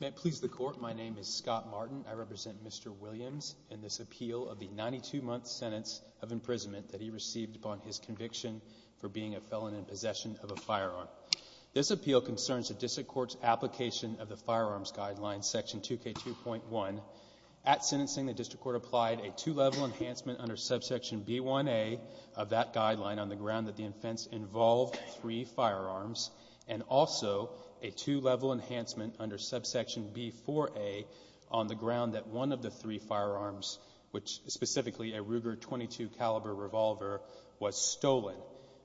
May it please the Court, my name is Scott Martin. I represent Mr. Williams in this appeal of the 92-month sentence of imprisonment that he received upon his conviction for being a felon in possession of a firearm. This appeal concerns the District Court's application of the firearms guideline section 2k 2.1. At sentencing the District Court applied a two-level enhancement under subsection b1a of that guideline on the ground that the offense involved three firearms and also a two-level enhancement under subsection b4a on the ground that one of the three firearms, which specifically a Ruger .22 caliber revolver, was stolen.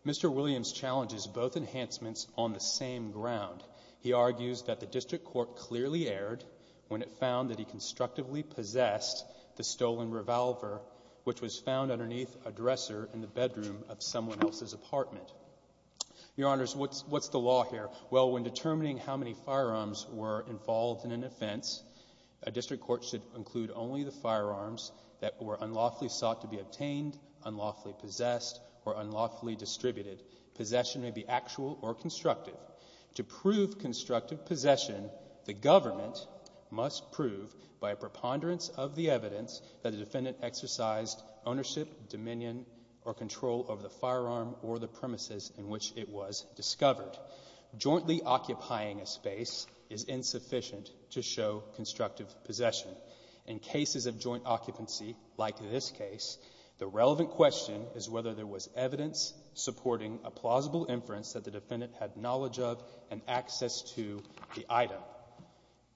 Mr. Williams challenges both enhancements on the same ground. He argues that the District Court clearly erred when it found that he constructively possessed the stolen revolver, which was found underneath a dresser in the bedroom of someone else's apartment. Your Honors, what's the law here? Well, when determining how many firearms were involved in an offense, a District Court should include only the firearms that were unlawfully sought to be obtained, unlawfully possessed, or unlawfully distributed. Possession may be actual or constructive. To prove constructive possession, the government must prove by a preponderance of the evidence that the defendant exercised ownership, dominion, or control over the firearm or the premises in which it was discovered. Jointly occupying a space is insufficient to show constructive possession. In cases of joint occupancy, like in this case, the relevant question is whether there was evidence supporting a plausible inference that the defendant had knowledge of and access to the item.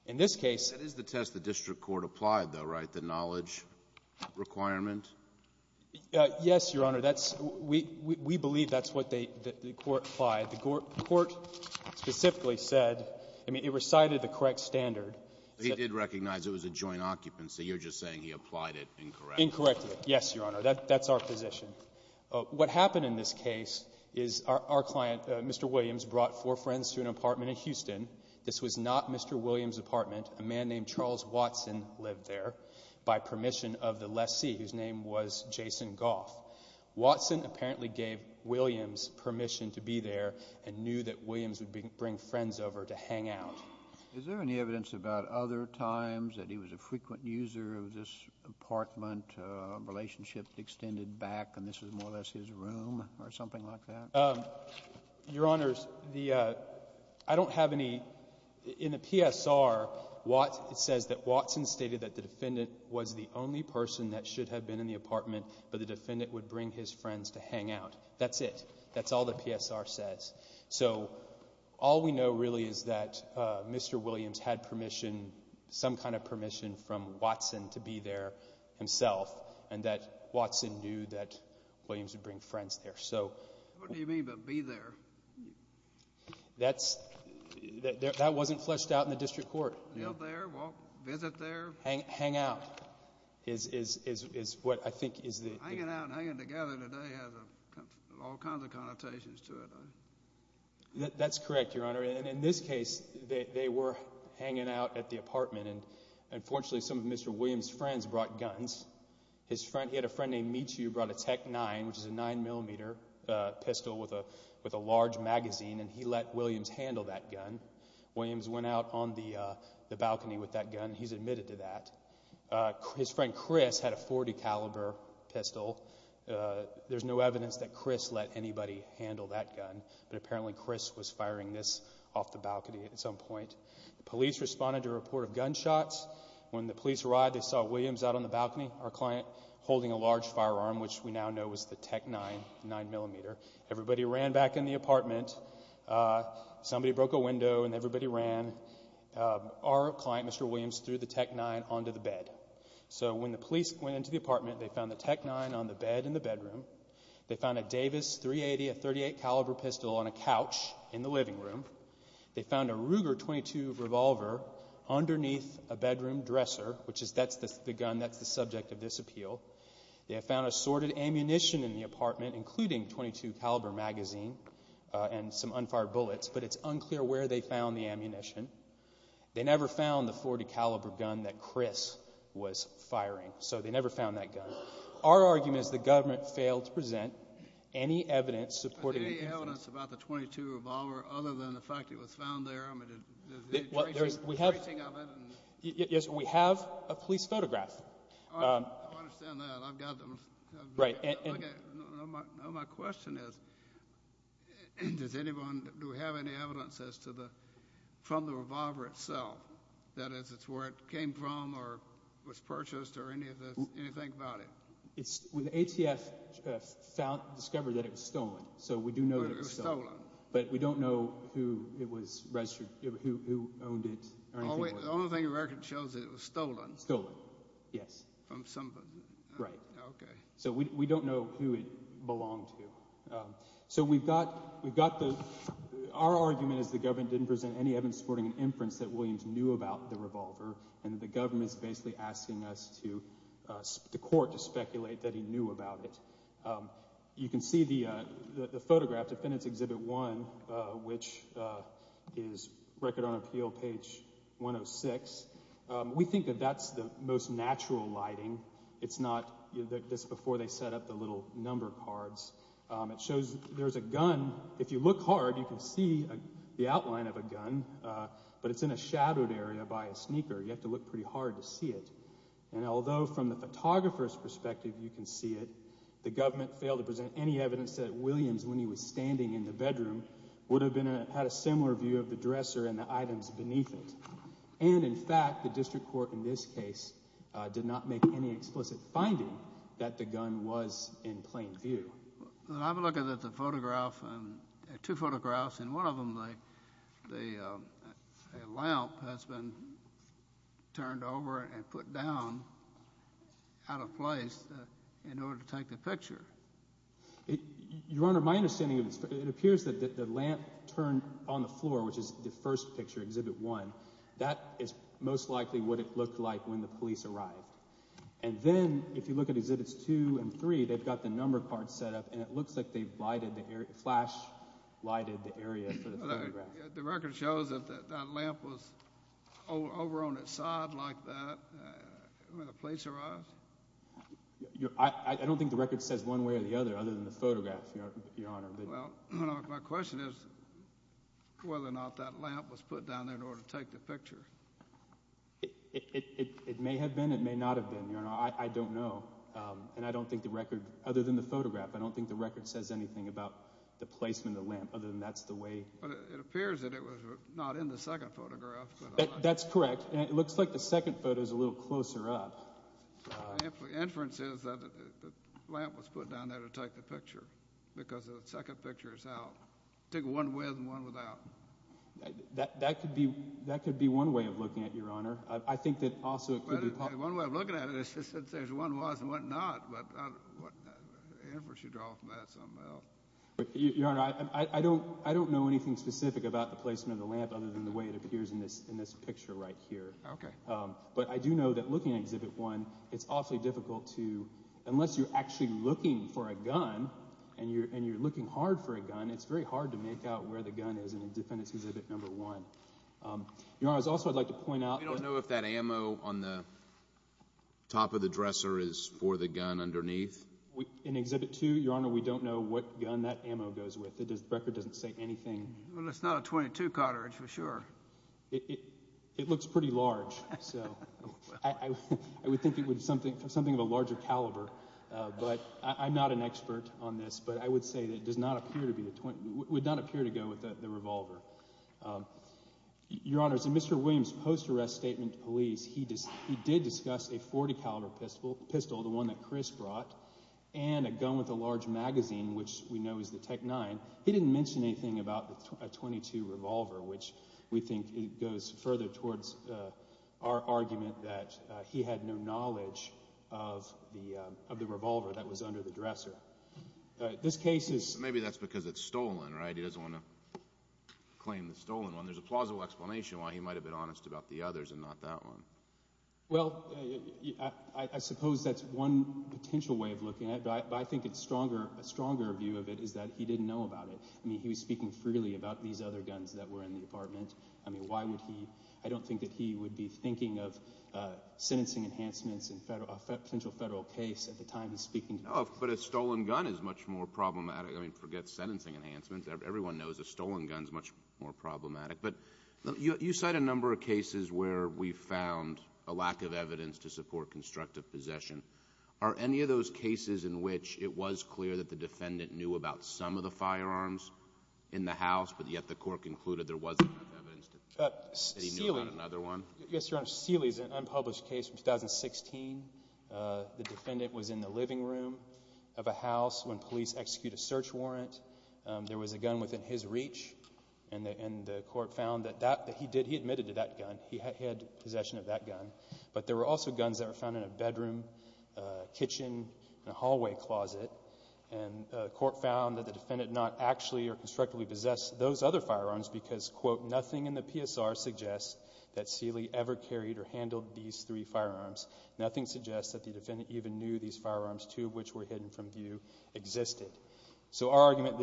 In this case... That is the test the District Court applied, though, right? The knowledge requirement? Yes, Your Honor. That's... we believe that's what the It recited the correct standard. He did recognize it was a joint occupancy. You're just saying he applied it incorrectly. Incorrectly, yes, Your Honor. That's our position. What happened in this case is our client, Mr. Williams, brought four friends to an apartment in Houston. This was not Mr. Williams' apartment. A man named Charles Watson lived there by permission of the lessee, whose name was Jason Goff. Watson apparently gave Williams permission to hang out. Is there any evidence about other times that he was a frequent user of this apartment, a relationship extended back, and this was more or less his room, or something like that? Your Honor, I don't have any... In the PSR, it says that Watson stated that the defendant was the only person that should have been in the apartment, but the defendant would bring his friends to Mr. Williams had permission, some kind of permission, from Watson to be there himself, and that Watson knew that Williams would bring friends there, so... What do you mean by be there? That wasn't fleshed out in the district court. Hang out is what I think is the... Hanging out and hanging together today has all kinds of were hanging out at the apartment, and unfortunately, some of Mr. Williams' friends brought guns. His friend... He had a friend named Michu who brought a Tech-9, which is a 9mm pistol with a large magazine, and he let Williams handle that gun. Williams went out on the balcony with that gun. He's admitted to that. His friend Chris had a .40 caliber pistol. There's no evidence that Chris let anybody handle that gun, but apparently Chris was firing this off the balcony at some point. Police responded to a report of gunshots. When the police arrived, they saw Williams out on the balcony, our client, holding a large firearm, which we now know was the Tech-9, 9mm. Everybody ran back in the apartment. Somebody broke a window, and everybody ran. Our client, Mr. Williams, threw the Tech-9 onto the bed. So when the police went into the apartment, they found the Tech-9 on the bed in the bedroom. They found a Davis .380, a .38 caliber pistol, on a couch in the living room. They found a Ruger .22 revolver underneath a bedroom dresser, which is... that's the gun that's the subject of this appeal. They have found assorted ammunition in the apartment, including .22 caliber magazine and some unfired bullets, but it's unclear where they found the ammunition. They never found the .40 caliber gun that Chris was firing, so they never found that gun. Our argument is the government failed to provide any evidence about the .22 revolver, other than the fact it was found there? Yes, we have a police photograph. I understand that. I've got them. My question is, does anyone have any evidence as to the... from the revolver itself, that is, it's where it came from, or was purchased, or anything about it? The ATF discovered that it was stolen, so we do know that it was stolen, but we don't know who it was registered... who owned it, or anything like that. The only thing the record shows is that it was stolen? Stolen, yes. From somebody? Right. So, we don't know who it belonged to. So, we've got... we've got the... our argument is the government didn't present any evidence supporting an inference that Williams knew about the revolver, and the government's basically asking us to... to speculate that he knew about it. You can see the photograph, Defendant's Exhibit 1, which is Record on Appeal, page 106. We think that that's the most natural lighting. It's not... that's before they set up the little number cards. It shows there's a gun. If you look hard, you can see the outline of a gun, but it's in a shadowed area by a sneaker. You have to look pretty hard to see it. And, although from the photographer's perspective, you can see it, the government failed to present any evidence that Williams, when he was standing in the bedroom, would have had a similar view of the dresser and the items beneath it. And, in fact, the District Court, in this case, did not make any explicit finding that the gun was in plain view. I'm looking at the photograph, two photographs, and one of them, the lamp has been turned over and put down out of place in order to take the picture. Your Honor, my understanding of this, it appears that the lamp turned on the floor, which is the first picture, Exhibit 1. That is most likely what it looked like when the police arrived. And then, if you look at Exhibits 2 and 3, they've got the number cards set up, and it looks like they flash-lighted the area for the photograph. The record shows that that lamp was over on its side like that when the police arrived? I don't think the record says one way or the other, other than the photograph, Your Honor. Well, my question is whether or not that lamp was put down there in order to take the picture. It may have been. It may not have been, Your Honor. I don't know. And I don't think the record, other than the photograph, I don't think the record says anything about the placement of the lamp, other than that's the way. But it appears that it was not in the second photograph. That's correct. And it looks like the second photo is a little closer up. The inference is that the lamp was put down there to take the picture, because the second picture is out. Take one with and one without. That could be one way of looking at it, Your Honor. One way of looking at it is that there's one with and one without. But the inference you draw from that is something else. Your Honor, I don't know anything specific about the placement of the lamp, other than the way it appears in this picture right here. But I do know that looking at Exhibit 1, it's awfully difficult to, unless you're actually looking for a gun, and you're looking hard for a gun, it's very hard to make out where the gun is in Defendant's Exhibit 1. Your Honor, I'd also like to point out that... You don't know if that ammo on the top of the dresser is for the gun underneath? In Exhibit 2, Your Honor, we don't know what gun that ammo goes with. The record doesn't say anything. Well, it's not a .22 cartridge for sure. It looks pretty large. I would think it would be something of a larger caliber. I'm not an expert on this, but I would say that it would not appear to go with the revolver. Your Honor, in Mr. Williams' post-arrest statement to police, he did discuss a .40 caliber pistol, the one that Chris brought, and a gun with a large magazine, which we know is the Tech-9. He didn't mention anything about a .22 revolver, which we think goes further towards our argument that he had no knowledge of the revolver that was under the dresser. This case is... Maybe that's because it's stolen, right? He doesn't want to claim the stolen one. There's a plausible explanation why he might have been honest about the others and not that one. Well, I suppose that's one potential way of looking at it, but I think a stronger view of it is that he didn't know about it. He was speaking freely about these other guns that were in the apartment. I don't think that he would be thinking of sentencing enhancements in a potential federal case at the time he was speaking. But a stolen gun is much more problematic. Forget sentencing enhancements. Everyone knows a stolen gun is much more problematic. You cite a number of cases where we found a lack of evidence to support constructive possession. Are any of those cases in which it was clear that the defendant knew about some of the firearms in the house, but yet the court concluded there wasn't enough evidence that he knew about another one? Yes, Your Honor. Sealy is an unpublished case from 2016. The defendant was in the living room of a house when police executed a search warrant. There was a gun within his reach, and the court found that he admitted to that gun. He had possession of that gun. But there were also guns that were found in a bedroom, kitchen, and a hallway closet. And the court found that the defendant not actually or constructively possessed those other firearms because, quote, nothing in the PSR suggests that Sealy ever carried or handled these three firearms. Nothing suggests that the defendant even knew these firearms, too, which were hidden from view, existed. So our argument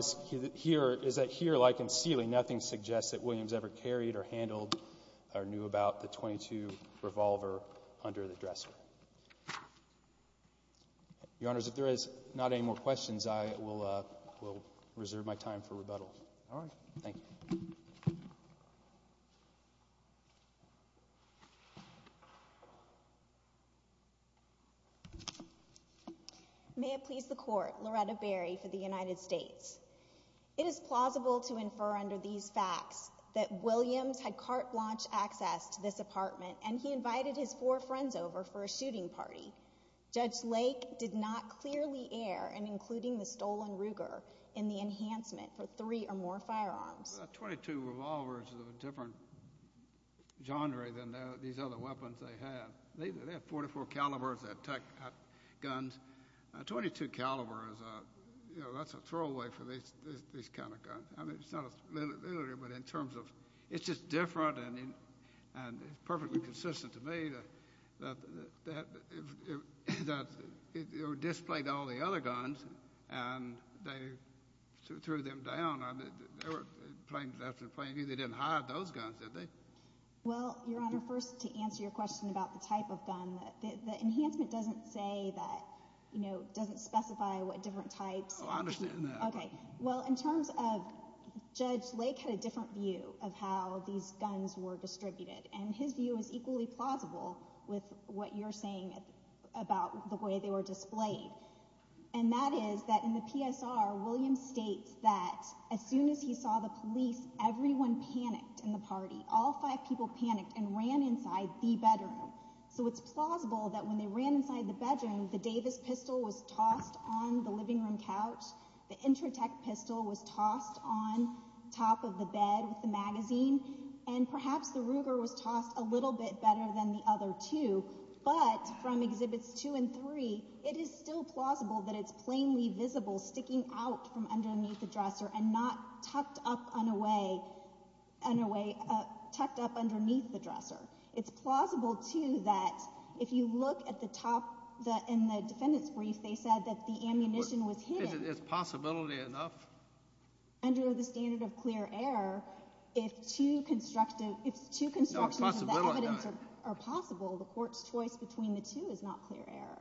here is that here, like in Sealy, nothing suggests that Williams ever carried or handled or knew about the .22 revolver under the dresser. Your Honors, if there is not any more questions, I will reserve my time for rebuttal. All right. Thank you. Thank you. May it please the Court, Loretta Berry for the United States. It is plausible to infer under these facts that Williams had carte blanche access to this apartment and he invited his four friends over for a shooting party. Judge Lake did not clearly err in including the stolen Ruger in the enhancement for three or more firearms. A .22 revolver is a different genre than these other weapons they have. They have .44 calibers that attack guns. A .22 caliber is a, you know, that's a throwaway for these kind of guns. I mean, it's not a similarity, but in terms of it's just different and it's perfectly consistent to me that they were displayed to all the other guns and they threw them down. They didn't hide those guns, did they? Well, Your Honor, first to answer your question about the type of gun, the enhancement doesn't say that, you know, doesn't specify what different types. Oh, I understand that. Okay. Well, in terms of Judge Lake had a different view of how these guns were distributed and his view is equally plausible with what you're saying about the way they were displayed. And that is that in the PSR, William states that as soon as he saw the police, everyone panicked in the party. All five people panicked and ran inside the bedroom. So it's plausible that when they ran inside the bedroom, the Davis pistol was tossed on the living room couch, the Intratec pistol was tossed on top of the bed with the magazine, and perhaps the Ruger was tossed a little bit better than the other two. But from Exhibits 2 and 3, it is still plausible that it's plainly visible sticking out from underneath the dresser and not tucked up underneath the dresser. It's plausible, too, that if you look at the top in the defendant's brief, they said that the ammunition was hidden. Is possibility enough? Under the standard of clear air, if two constructions of the evidence are possible, the court's choice between the two is not clear air.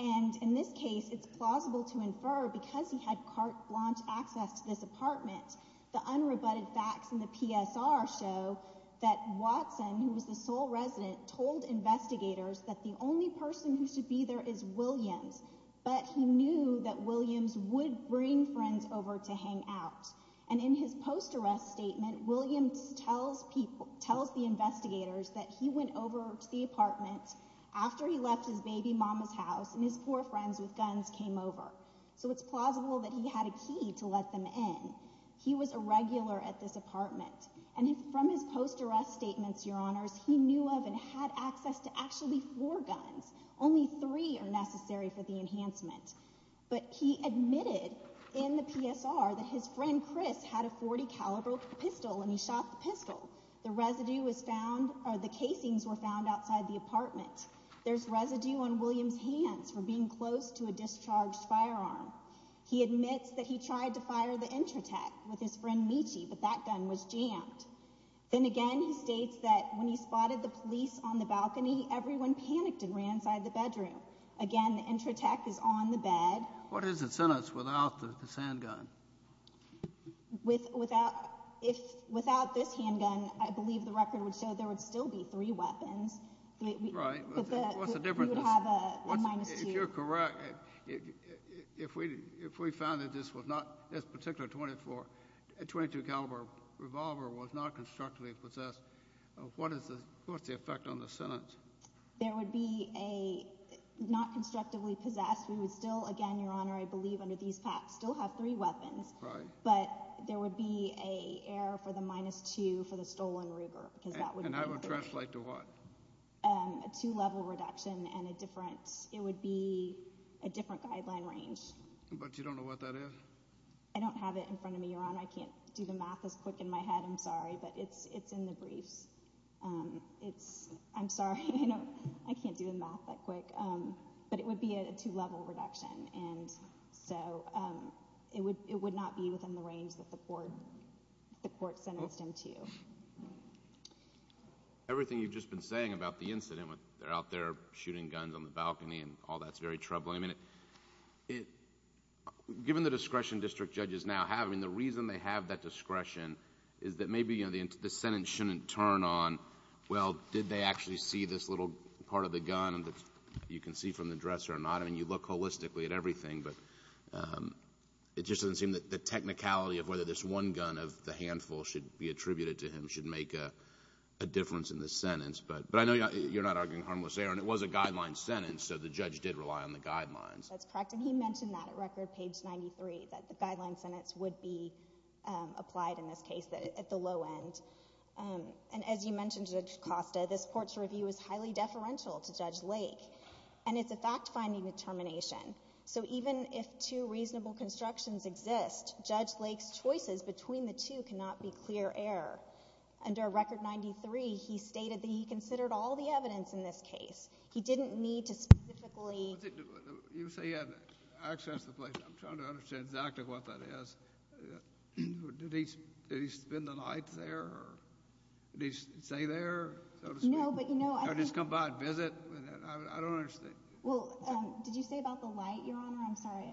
And in this case, it's plausible to infer because he had carte blanche access to this apartment, the unrebutted facts in the PSR show that Watson, who was the sole resident, told investigators that the only person who should be there is Williams, but he knew that Williams would bring friends over to hang out. And in his post-arrest statement, Williams tells the investigators that he went over to the apartment after he left his baby mama's house and his poor friends with guns came over. So it's plausible that he had a key to let them in. He was a regular at this apartment. And from his post-arrest statements, Your Honors, he knew of and had access to actually four guns. Only three are necessary for the enhancement. But he admitted in the PSR that his friend Chris had a .40 caliber pistol and he shot the pistol. The residue was found, or the casings were found outside the apartment. There's residue on Williams' hands from being close to a discharged firearm. He admits that he tried to fire the Intratech with his friend Michi, but that gun was jammed. Then again, he states that when he spotted the police on the balcony, everyone panicked and ran inside the bedroom. Again, the Intratech is on the bed. What is the sentence without the handgun? Without this handgun, I believe the record would show there would still be three weapons. Right. What's the difference? You would have a minus two. If you're correct, if we found that this particular .22 caliber revolver was not constructively possessed, what's the effect on the sentence? There would be a not constructively possessed. We would still, again, Your Honor, I believe under these facts, still have three weapons. But there would be an error for the minus two for the stolen Ruger. And that would translate to what? A two-level reduction and it would be a different guideline range. But you don't know what that is? I don't have it in front of me, Your Honor. I can't do the math as quick in my head, I'm sorry, but it's in the briefs. I'm sorry, I can't do the math that quick. But it would be a two-level reduction. And so it would not be within the range that the court sentenced him to. Everything you've just been saying about the incident, they're out there shooting guns on the balcony and all that's very troubling. Given the discretion district judges now have, the reason they have that discretion is that maybe the sentence shouldn't turn on, well, did they actually see this little part of the gun that you can see from the dresser or not? I mean, you look holistically at everything, but it just doesn't seem that the technicality of whether this one gun of the handful should be attributed to him should make a difference in the sentence. But I know you're not arguing harmless error, and it was a guideline sentence, so the judge did rely on the guidelines. That's correct, and he mentioned that at record page 93, that the guideline sentence would be applied in this case at the low end. And as you mentioned, Judge Costa, this court's review is highly deferential to Judge Lake, and it's a fact-finding determination. So even if two reasonable constructions exist, Judge Lake's choices between the two cannot be clear error. Under record 93, he stated that he considered all the evidence in this case. He didn't need to specifically... You say he had access to the place. I'm trying to understand exactly what that is. Did he spend the night there? Did he stay there, so to speak? No, but you know... Or just come by and visit? I don't understand. Well, did you say about the light, Your Honor? I'm sorry.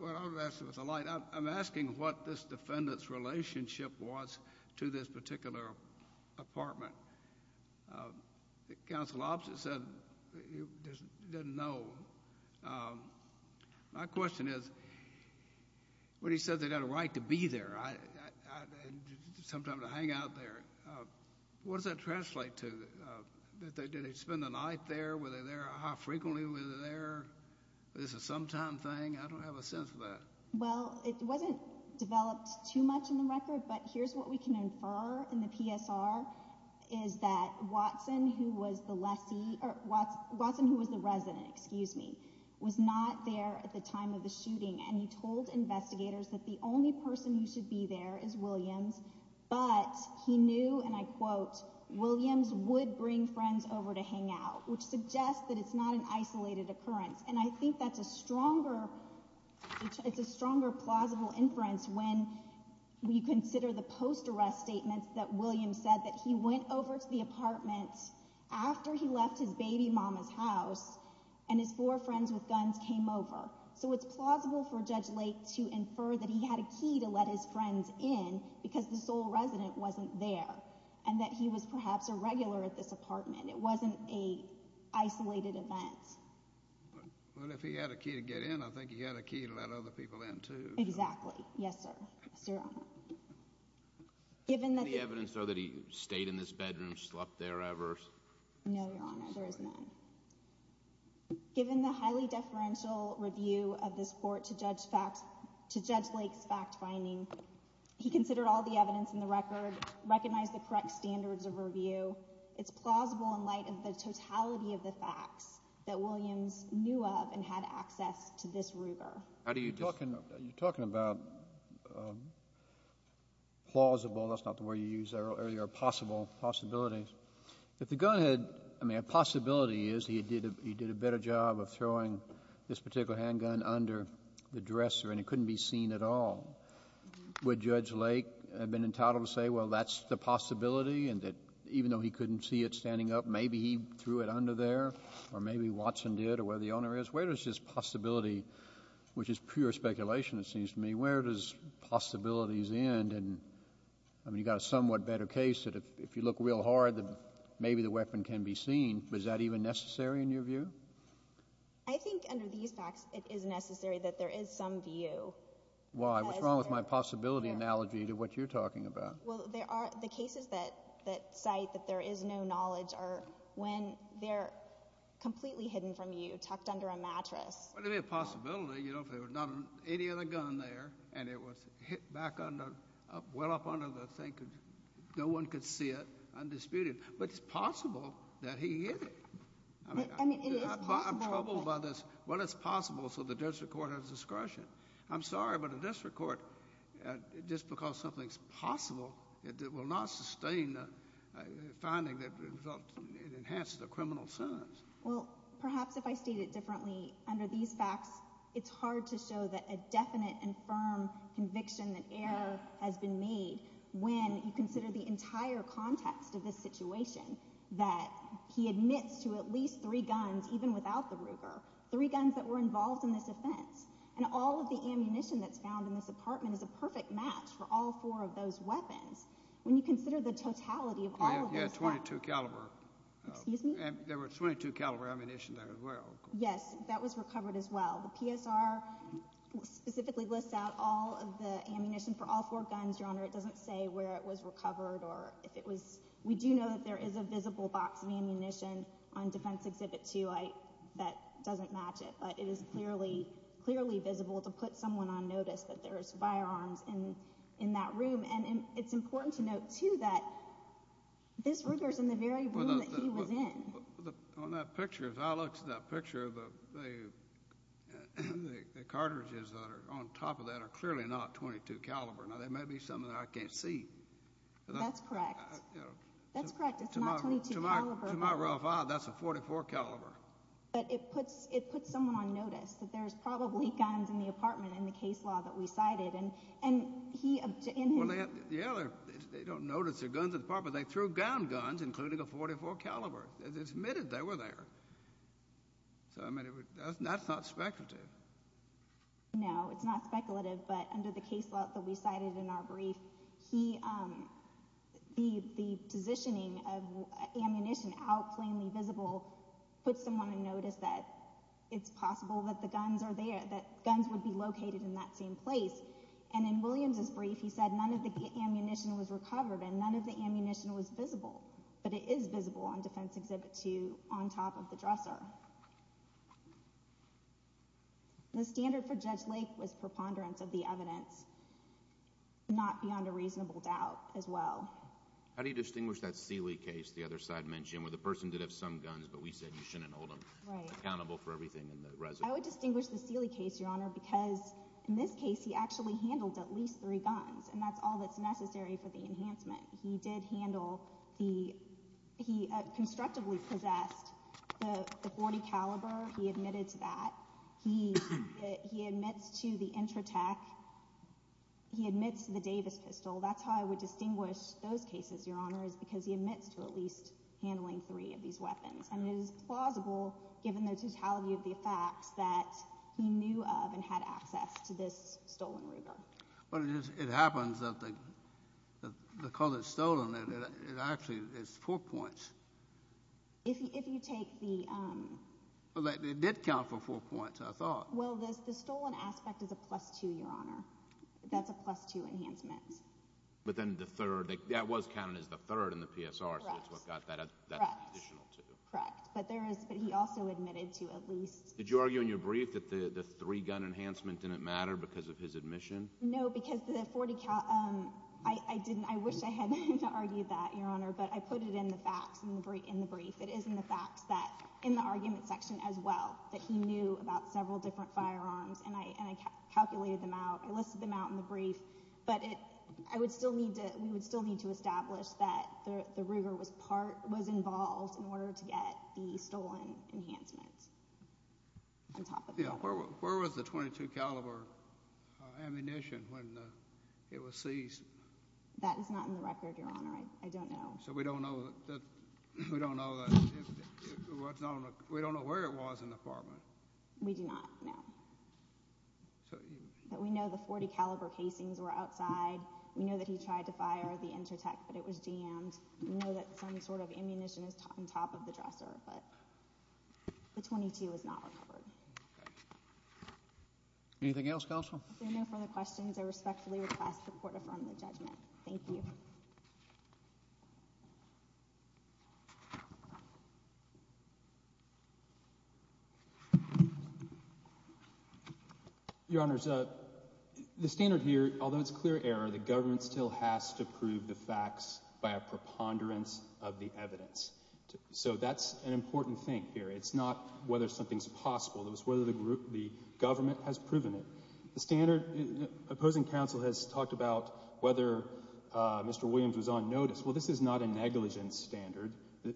Well, I'm not asking about the light. I'm asking what this defendant's relationship was to this particular apartment. The counsel opposite said he didn't know. My question is, when he said they had a right to be there, and sometimes to hang out there, what does that translate to? Did they spend the night there? Were they there? How frequently were they there? Is this a sometime thing? I don't have a sense of that. Well, it wasn't developed too much in the record, but here's what we can infer in the PSR, is that Watson, who was the resident, was not there at the time of the shooting, and he told investigators that the only person who should be there is Williams, but he knew, and I quote, Williams would bring friends over to hang out, which suggests that it's not an isolated occurrence, and I think that's a stronger plausible inference when you consider the post-arrest statements that Williams said, that he went over to the apartment after he left his baby mama's house, and his four friends with guns came over. So it's plausible for Judge Lake to infer that he had a key to let his friends in, because the sole resident wasn't there, and that he was perhaps a regular at this apartment. It wasn't an isolated event. Well, if he had a key to get in, I think he had a key to let other people in too. Exactly. Yes, sir. Yes, Your Honor. Is there any evidence, though, that he stayed in this bedroom, slept there ever? No, Your Honor, there is none. Given the highly deferential review of this court to Judge Lake's fact-finding, he considered all the evidence in the record, recognized the correct standards of review, it's plausible in light of the totality of the facts that Williams knew of and had access to this Ruger. You're talking about plausible, that's not the word you used earlier, or possible, possibilities. If the gun had, I mean, a possibility is he did a better job of throwing this particular handgun under the dresser, and it couldn't be seen at all, would Judge Lake have been entitled to say, well, that's the possibility, and that even though he couldn't see it standing up, maybe he threw it under there, or maybe Watson did, or whatever the owner is? Where does this possibility, which is pure speculation, it seems to me, where does possibilities end? I mean, you've got a somewhat better case that if you look real hard, then maybe the weapon can be seen. Is that even necessary in your view? I think under these facts, it is necessary that there is some view. Why? What's wrong with my possibility analogy to what you're talking about? Well, there are the cases that cite that there is no knowledge are when they're completely hidden from you, tucked under a mattress. Well, there'd be a possibility, you know, if there was not any other gun there, and it was hit back under, well up under the thing, no one could see it undisputed. But it's possible that he hid it. I mean, it is possible. I'm troubled by this. Well, it's possible, so the district court has discretion. I'm sorry, but a district court, just because something's possible, it will not sustain the finding that it enhanced the criminal sentence. under these facts, it's hard to show that a definite and firm conviction that error has been made when you consider the entire context of this situation that he admits to at least three guns, even without the Ruger, three guns that were involved in this offense, and all of the ammunition that's found in this apartment is a perfect match for all four of those weapons. When you consider the totality of all of those... Yeah, 22 caliber. Excuse me? There were 22 caliber ammunition there as well. Yes, that was recovered as well. The PSR specifically lists out all of the ammunition for all four guns, Your Honor. It doesn't say where it was recovered or if it was... We do know that there is a visible box of ammunition on Defense Exhibit 2 that doesn't match it, but it is clearly visible to put someone on notice that there's firearms in that room. And it's important to note, too, that this Ruger's in the very room that he was in. On that picture, if I looked at that picture, the cartridges that are on top of that are clearly not 22 caliber. Now, there may be some that I can't see. That's correct. That's correct. It's not 22 caliber. To my rough eye, that's a 44 caliber. But it puts someone on notice that there's probably guns in the apartment in the case law that we cited. And he... Yeah, they don't notice the guns in the apartment. They threw down guns, including a 44 caliber. It's admitted they were there. That's not speculative. No, it's not speculative. But under the case law that we cited in our brief, the positioning of ammunition out plainly visible puts someone on notice that it's possible that the guns are there, that guns would be located in that same place. And in Williams's brief, he said none of the ammunition was recovered and none of the ammunition was visible. But it is visible on Defense Exhibit 2 on top of the dresser. The standard for Judge Lake was preponderance of the evidence but not beyond a reasonable doubt as well. How do you distinguish that Seeley case the other side mentioned where the person did have some guns but we said you shouldn't hold him accountable for everything in the residence? I would distinguish the Seeley case, Your Honor, because in this case, he actually handled at least three guns. And that's all that's necessary for the enhancement. He did handle the... He constructively possessed the .40 caliber. He admitted to that. He admits to the Intratec. He admits to the Davis pistol. That's how I would distinguish those cases, Your Honor, is because he admits to at least handling three of these weapons. And it is plausible given the totality of the facts that he knew of and had access to this stolen river. But it happens that the... the color stolen actually is four points. If you take the... It did count for four points, I thought. Well, the stolen aspect is a plus two, Your Honor. That's a plus two enhancement. But then the third, that was counted as the third in the PSR, so that's what got that additional two. Correct. But there is... But he also admitted to at least... Did you argue in your brief that the three-gun enhancement didn't matter because of his admission? No, because the .40 caliber... I didn't. I wish I had argued that, Your Honor, but I put it in the facts in the brief. It is in the facts that in the argument section as well that he knew about several different firearms and I calculated them out. I listed them out in the brief. But I would still need to... We would still need to establish that the river was involved in order to get the stolen enhancement on top of that. Where was the .22 caliber ammunition when it was seized? That is not in the record, Your Honor. I don't know. So we don't know where it was in the apartment? We do not know. But we know the .40 caliber casings were outside. We know that he tried to fire the intertech but it was jammed. We know that some but the .22 was not recovered. Anything else, Counsel? If there are no further questions, I respectfully request the Court affirm the judgment. Thank you. Your Honors, the standard here, although it's clear error, the government still has to prove the facts by a preponderance of the evidence. So that's an important thing here. It's not whether something's possible. It's whether the government has proven it. The standard, opposing counsel has talked about whether Mr. Williams was on notice. Well, this is not a negligence standard.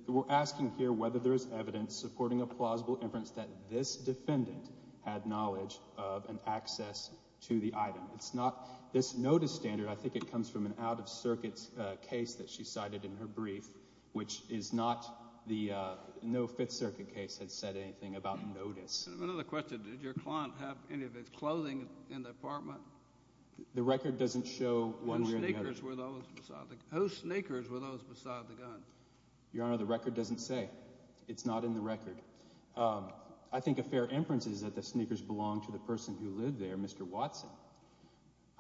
We're asking here whether there's evidence supporting a plausible inference that this defendant had knowledge of and access to the item. It's not this notice standard. I think it comes from an out-of-circuit case that she cited in her brief, which is not the, no Fifth Circuit case had said anything about notice. Another question. Did your client have any of his clothing in the apartment? The record doesn't show one way or the other. Whose sneakers were those beside the gun? Whose sneakers were those beside the gun? Your Honor, the record doesn't say. It's not in the record. I think a fair inference is that the sneakers belonged to the person who lived there, Mr. Watson.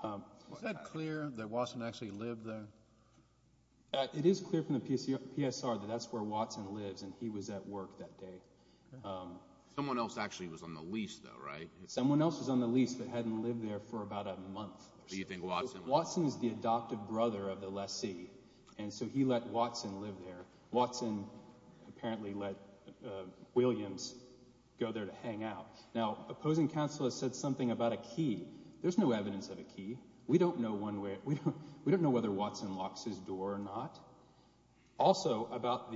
Is that clear that Watson actually lived there? It is clear from the PSR that that's where Watson lives, and he was at work that day. Someone else actually was on the lease, though, right? Someone else was on the lease that hadn't lived there for about a month. Do you think Watson was there? Watson is the adopted brother of the lessee, and so he let Watson live there. Watson apparently let Williams go there to hang out. Now, opposing counsel has said something about a key. There's no evidence of a key. We don't know whether Watson locks his door or not. Also, about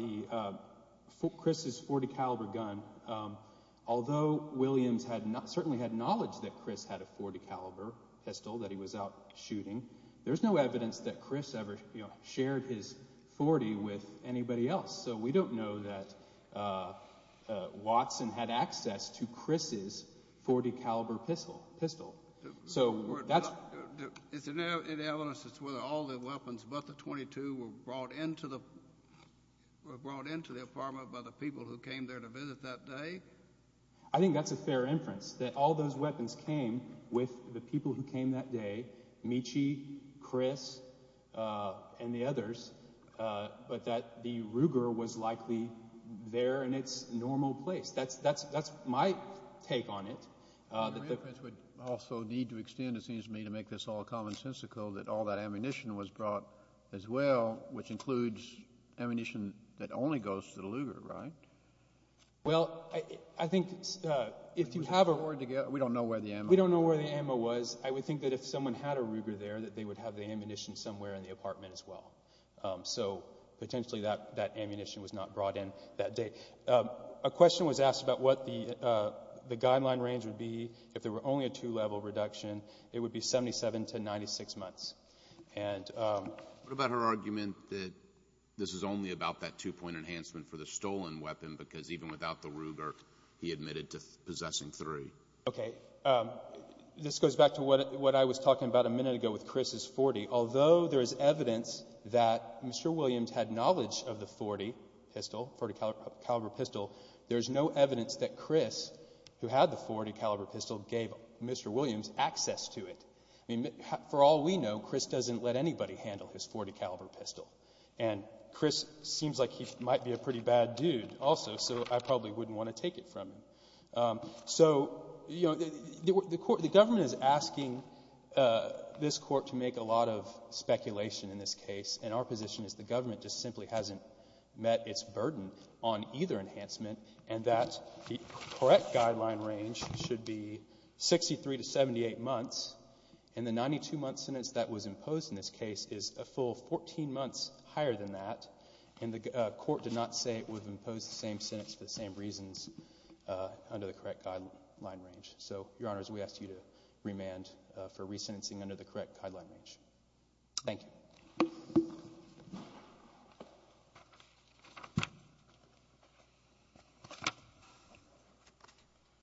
Chris's .40-caliber gun, although Williams certainly had knowledge that Chris had a .40-caliber pistol that he was out shooting, there's no evidence that Chris ever shared his .40 with anybody else, so we don't know that Watson had access to Chris's .40-caliber pistol. Is there no evidence as to whether all the weapons but the .22 were brought into the apartment by the people who came there to visit that day? I think that's a fair inference, that all those weapons came with the people who came that day, Michi, Chris, and the others, but that the Ruger was likely there in its normal place. That's my take on it. Your inference would also need to extend, it seems to me, to make this all commonsensical, that all that ammunition was brought as well, which includes ammunition that only goes to the Luger, right? Well, I think we don't know where the ammo was. I would think that if someone had a Ruger there, that they would have the ammunition somewhere in the apartment as well. So potentially that ammunition was not brought in that day. A question was asked about what the guideline range would be if there were only a two-level reduction, it would be 77 to 96 months. What about her argument that this is only about that two-point enhancement for the stolen weapon because even without the Ruger, he admitted to possessing three? Okay, this goes back to what I was talking about a minute ago with Chris's .40. Although there is evidence that Mr. Williams had knowledge of the .40 pistol, .40 caliber pistol, there's no evidence that Chris, who had the .40 caliber pistol, gave Mr. Williams access to it. For all we know, Chris doesn't let anybody handle his .40 caliber pistol and Chris seems like he might be a pretty bad dude also so I probably wouldn't want to take it from him. So, the government is asking this court to make a lot of speculation in this case and our position is the government just simply hasn't met its burden on either enhancement and that the correct guideline range should be 63 to 78 months and the 92 month sentence that was imposed in this case is a full 14 months higher than that and the court did not say it would impose the same sentence for the same reasons under the correct guideline range. So, Your Honors, we ask you to remand for resentencing under the correct guideline range. Thank you.